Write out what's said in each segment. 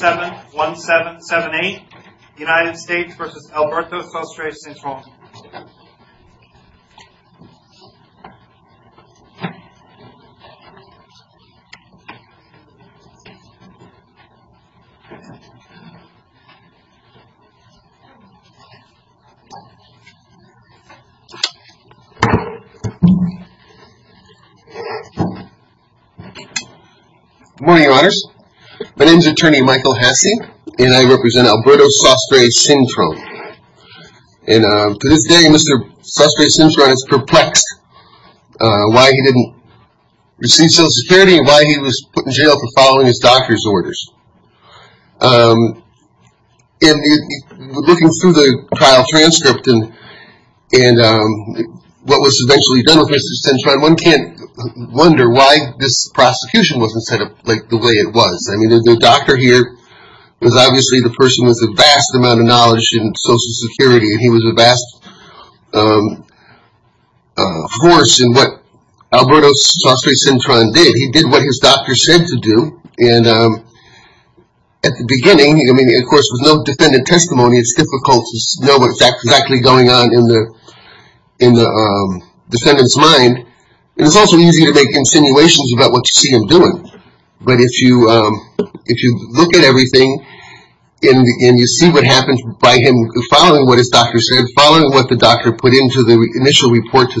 7-1-7-7-8 United States v. Alberto Sostre-Cintron Good morning, your honors. My name is attorney Michael Hasse, and I represent Alberto Sostre-Cintron. And to this day, Mr. Sostre-Cintron is perplexed why he didn't receive Social Security and why he was put in jail for following his doctor's orders. And looking through the trial transcript and what was eventually done with Mr. Cintron, one can't wonder why this prosecution wasn't set up the way it was. I mean, the doctor here was obviously the person with the vast amount of knowledge in Social Security, and he was a vast force in what Alberto Sostre-Cintron did. He did what his doctor said to do, and at the beginning, I mean, of course, with no defendant testimony, it's difficult to know what's exactly going on in the defendant's mind. And it's also easy to make insinuations about what you see him doing, but if you look at everything and you see what happens by him following what his doctor said, following what the doctor put into the initial report to Social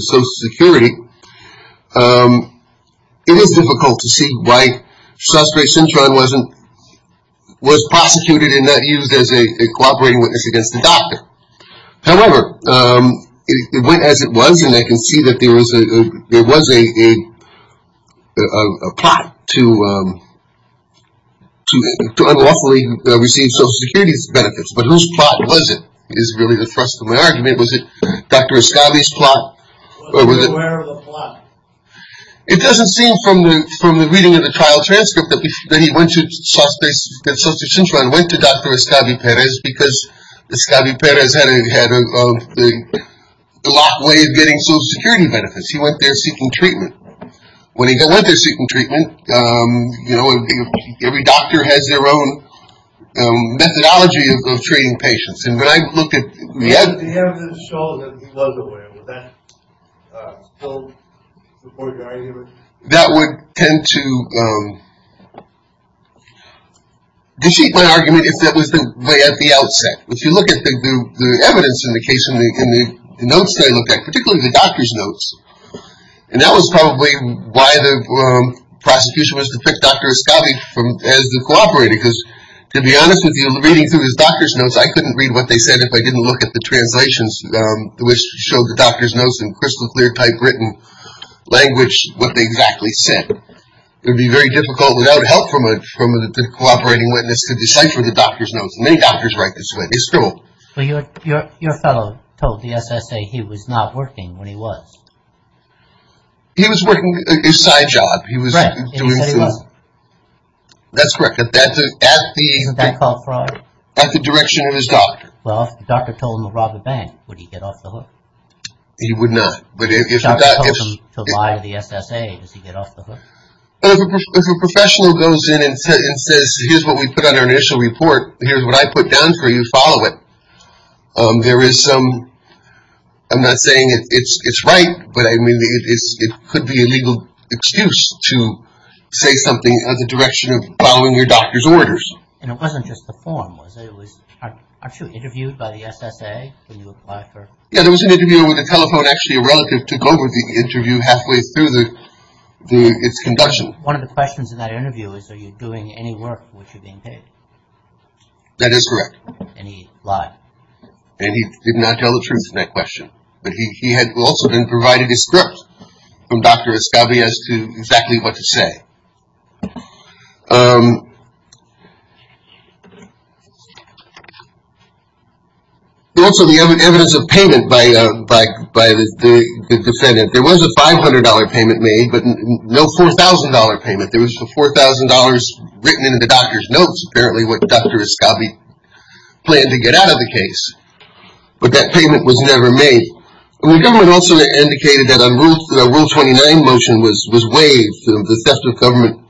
Security, it is difficult to see why Sostre-Cintron was prosecuted and not used as a cooperating witness against the doctor. However, it went as it was, and I can see that there was a plot to unlawfully receive Social Security's benefits. But whose plot was it is really the thrust of my argument. Was it Dr. Escabi's plot? It doesn't seem from the reading of the trial transcript that Sostre-Cintron went to Dr. Escabi Perez because Escabi Perez had a lot of ways of getting Social Security benefits. He went there seeking treatment. When he went there seeking treatment, you know, every doctor has their own methodology of treating patients. If the defendant had shown that he was aware, would that support your argument? That would tend to defeat my argument if that was the way at the outset. If you look at the evidence in the case and the notes that I looked at, particularly the doctor's notes, and that was probably why the prosecution was to pick Dr. Escabi as the cooperator because, to be honest with you, reading through his doctor's notes, I couldn't read what they said if I didn't look at the translations which showed the doctor's notes in crystal clear typewritten language what they exactly said. It would be very difficult without help from a cooperating witness to decipher the doctor's notes. Many doctors write this way. It's true. Your fellow told the SSA he was not working when he was. He was working his side job. Right. He said he was. That's correct. Isn't that called fraud? At the direction of his doctor. Well, if the doctor told him to rob a bank, would he get off the hook? He would not. But if the doctor told him to lie to the SSA, does he get off the hook? If a professional goes in and says, here's what we put on our initial report, here's what I put down for you, follow it. There is some, I'm not saying it's right, but I mean it could be a legal excuse to say something in the direction of following your doctor's orders. And it wasn't just the form, was it? Weren't you interviewed by the SSA when you applied for? Yeah, there was an interview with a telephone actually a relative took over the interview halfway through its conduction. One of the questions in that interview is are you doing any work which you're being paid? That is correct. And he lied. And he did not tell the truth in that question. But he had also been provided a script from Dr. Ascabi as to exactly what to say. Also, the evidence of payment by the defendant. There was a $500 payment made, but no $4,000 payment. There was a $4,000 written in the doctor's notes apparently what Dr. Ascabi planned to get out of the case. But that payment was never made. And the government also indicated that a Rule 29 motion was waived, the theft of government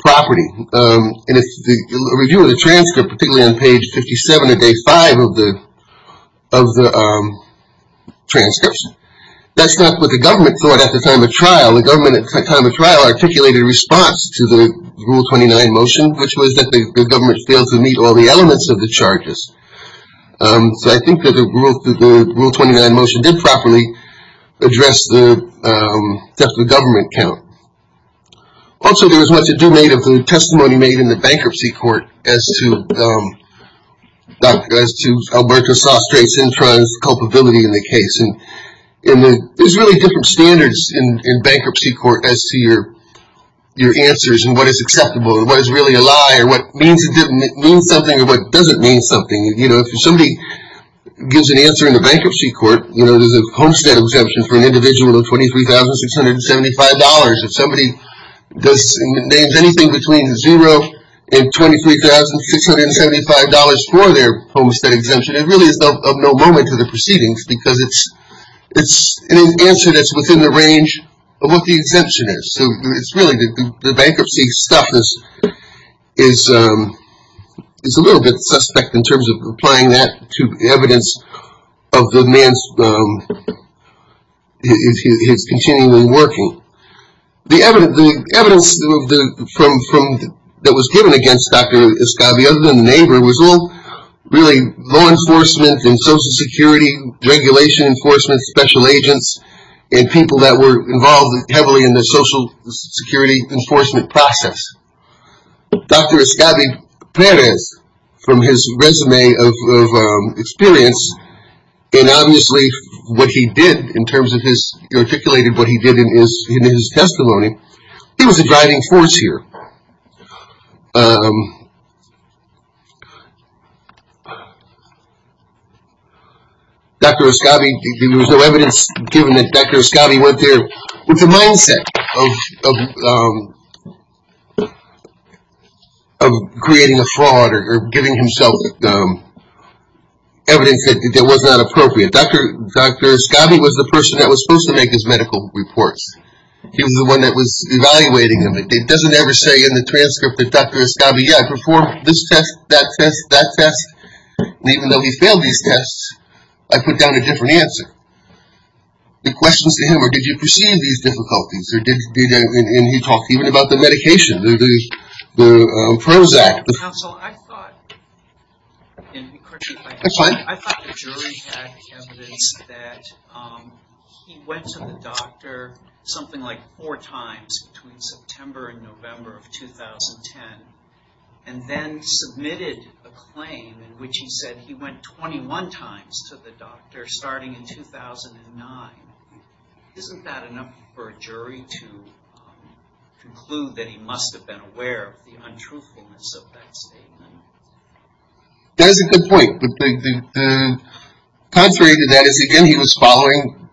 property. And if the review of the transcript, particularly on page 57 of day five of the transcripts, that's not what the government thought at the time of trial. The government at the time of trial articulated a response to the Rule 29 motion, which was that the government failed to meet all the elements of the charges. So I think that the Rule 29 motion did properly address the theft of government account. Also, there was much ado made of the testimony made in the bankruptcy court as to Alberto Sastre's introns, culpability in the case. And there's really different standards in bankruptcy court as to your answers and what is acceptable and what is really a lie or what means something or what doesn't mean something. If somebody gives an answer in the bankruptcy court, there's a homestead exemption for an individual of $23,675. If somebody names anything between zero and $23,675 for their homestead exemption, it really is of no moment to the proceedings because it's an answer that's within the range of what the exemption is. So it's really the bankruptcy stuff is a little bit suspect in terms of applying that to evidence of the man's continuing working. The evidence that was given against Dr. Escovia, other than the neighbor, was all really law enforcement and social security, regulation enforcement, special agents, and people that were involved heavily in the social security enforcement process. Dr. Escovia Perez, from his resume of experience, and obviously what he did in terms of his, he articulated what he did in his testimony, he was a driving force here. Dr. Escovia, there was no evidence given that Dr. Escovia went there with the mindset of creating a fraud or giving himself evidence that was not appropriate. Dr. Escovia was the person that was supposed to make his medical reports. He was the one that was evaluating them. It doesn't ever say in the transcript that Dr. Escovia performed this test, that test, that test. Even though he failed these tests, I put down a different answer. The questions to him were, did you perceive these difficulties? And he talked even about the medication, the PROZAC. Counsel, I thought the jury had evidence that he went to the doctor something like four times between September and November of 2010, and then submitted a claim in which he said he went 21 times to the doctor starting in 2009. Isn't that enough for a jury to conclude that he must have been aware of the untruthfulness of that statement? That is a good point, but contrary to that, again, he was following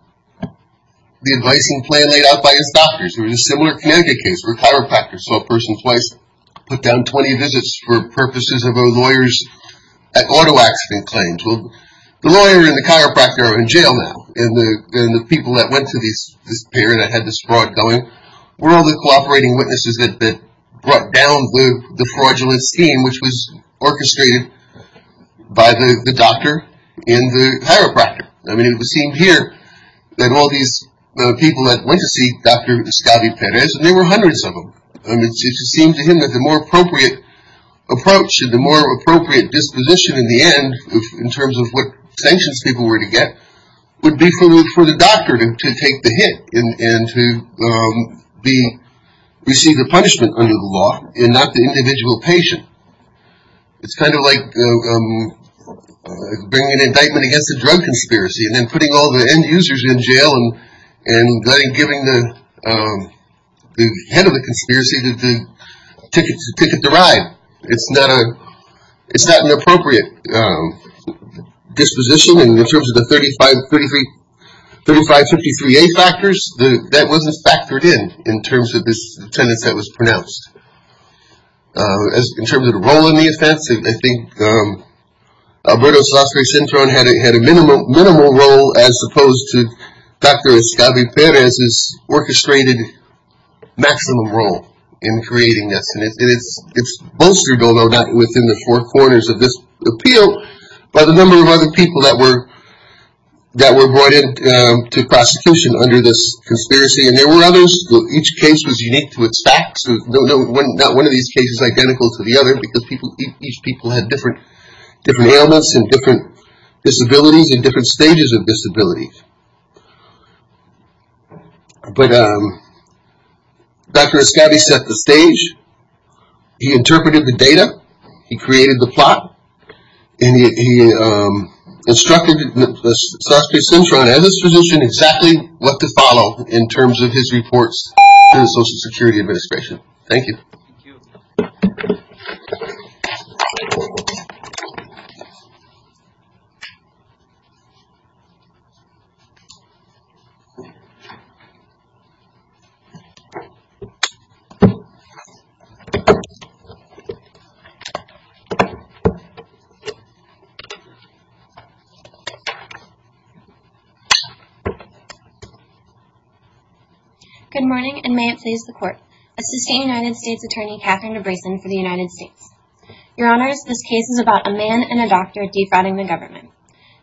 the advising plan laid out by his doctors. There was a similar Connecticut case where a chiropractor saw a person twice, put down 20 visits for purposes of a lawyer's auto accident claims. Well, the lawyer and the chiropractor are in jail now, and the people that went to this pair that had this fraud going were all the cooperating witnesses that brought down the fraudulent scheme, which was orchestrated by the doctor and the chiropractor. I mean, it was seen here that all these people that went to see Dr. Escovia Perez, and there were hundreds of them. It seemed to him that the more appropriate approach and the more appropriate disposition in the end, in terms of what sanctions people were to get, would be for the doctor to take the hit and to receive the punishment under the law and not the individual patient. It's kind of like bringing an indictment against a drug conspiracy and then putting all the end users in jail and giving the head of the conspiracy the ticket to ride. It's not an appropriate disposition in terms of the 3553A factors. That wasn't factored in in terms of the sentence that was pronounced. In terms of the role in the offense, I think Alberto Sastre-Cintron had a minimal role as opposed to Dr. Escovia Perez's orchestrated maximum role in creating this. And it's bolstered, although not within the four corners of this appeal, by the number of other people that were brought into prosecution under this conspiracy. And there were others. Each case was unique to its facts. Not one of these cases identical to the other because each people had different ailments and different disabilities and different stages of disabilities. But Dr. Escobia set the stage. He interpreted the data. He created the plot. And he instructed Sastre-Cintron, as his position, exactly what to follow in terms of his reports to the Social Security Administration. Thank you. Good morning, and may it please the Court. Assistant United States Attorney Catherine DeBrasan for the United States. Your Honors, this case is about a man and a doctor defrauding the government.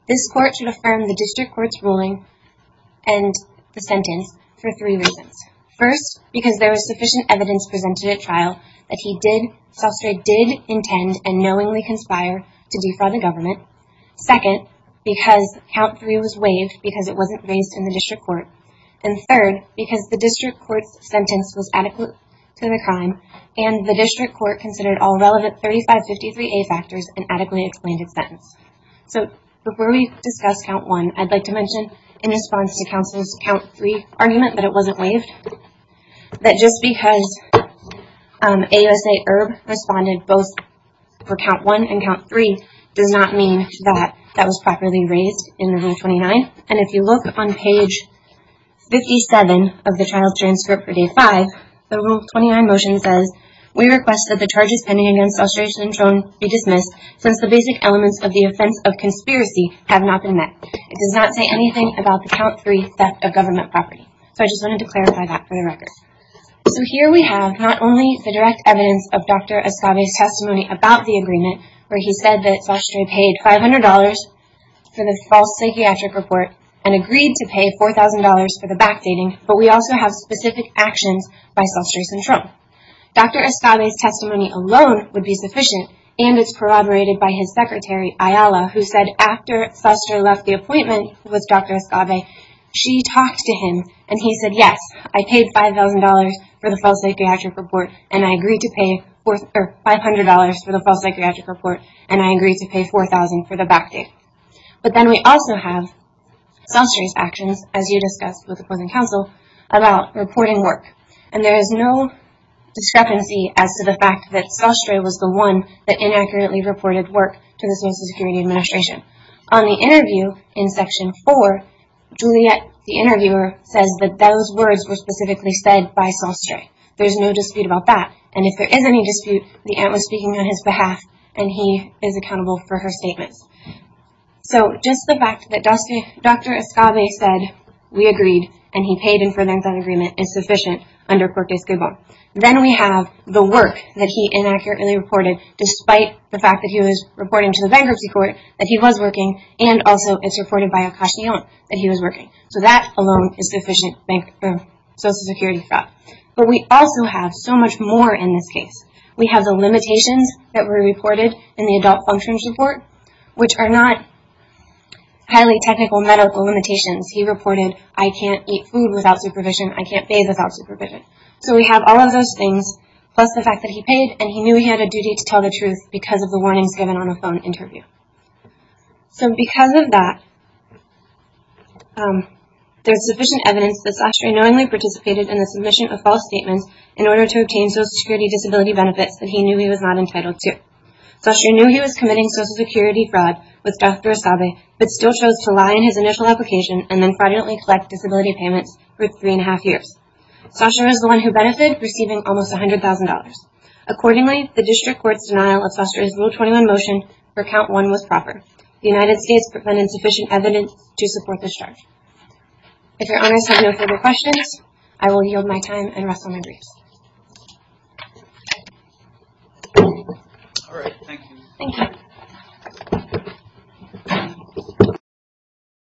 This Court should affirm the District Court's ruling and the sentence for three reasons. First, because there was sufficient evidence presented at trial that Sastre did intend and knowingly conspire to defraud the government. Second, because Count 3 was waived because it wasn't raised in the District Court. And third, because the District Court's sentence was adequate to the crime and the District Court considered all relevant 3553A factors and adequately explained its sentence. So before we discuss Count 1, I'd like to mention in response to Counsel's Count 3 argument that it wasn't waived, that just because AUSA IRB responded both for Count 1 and Count 3, does not mean that that was properly raised in Rule 29. And if you look on page 57 of the trial transcript for Day 5, the Rule 29 motion says, We request that the charges pending against Sastre-Cintron be dismissed since the basic elements of the offense of conspiracy have not been met. It does not say anything about the Count 3 theft of government property. So I just wanted to clarify that for the record. So here we have not only the direct evidence of Dr. Ascave's testimony about the agreement, where he said that Sastre paid $500 for the false psychiatric report and agreed to pay $4,000 for the backdating, but we also have specific actions by Sastre-Cintron. Dr. Ascave's testimony alone would be sufficient, and it's corroborated by his secretary, Ayala, who said after Sastre left the appointment with Dr. Ascave, she talked to him and he said, Yes, I paid $5,000 for the false psychiatric report and I agreed to pay $500 for the false psychiatric report and I agreed to pay $4,000 for the backdate. But then we also have Sastre's actions, as you discussed with the poison counsel, about reporting work. And there is no discrepancy as to the fact that Sastre was the one that inaccurately reported work to the Social Security Administration. On the interview in Section 4, Juliet, the interviewer, says that those words were specifically said by Sastre. There's no dispute about that. And if there is any dispute, the aunt was speaking on his behalf and he is accountable for her statements. So just the fact that Dr. Ascave said, We agreed, and he paid him for an entire agreement, is sufficient under Corte Escrivá. Then we have the work that he inaccurately reported, despite the fact that he was reporting to the bankruptcy court, that he was working, and also it's reported by a cashier that he was working. So that alone is sufficient for Social Security fraud. But we also have so much more in this case. We have the limitations that were reported in the adult functions report, which are not highly technical medical limitations. He reported, I can't eat food without supervision, I can't bathe without supervision. So we have all of those things, plus the fact that he paid and he knew he had a duty to tell the truth because of the warnings given on the phone interview. So because of that, there is sufficient evidence that Sastry knowingly participated in the submission of false statements in order to obtain Social Security disability benefits that he knew he was not entitled to. Sastry knew he was committing Social Security fraud with Dr. Ascave, but still chose to lie in his initial application and then fraudulently collect disability payments for three and a half years. Sastry was the one who benefited, receiving almost $100,000. Accordingly, the district court's denial of Sastry's Rule 21 motion for count one was proper. The United States presented sufficient evidence to support this charge. If your honors have no further questions, I will yield my time and rest on my briefs. All right, thank you. Thank you.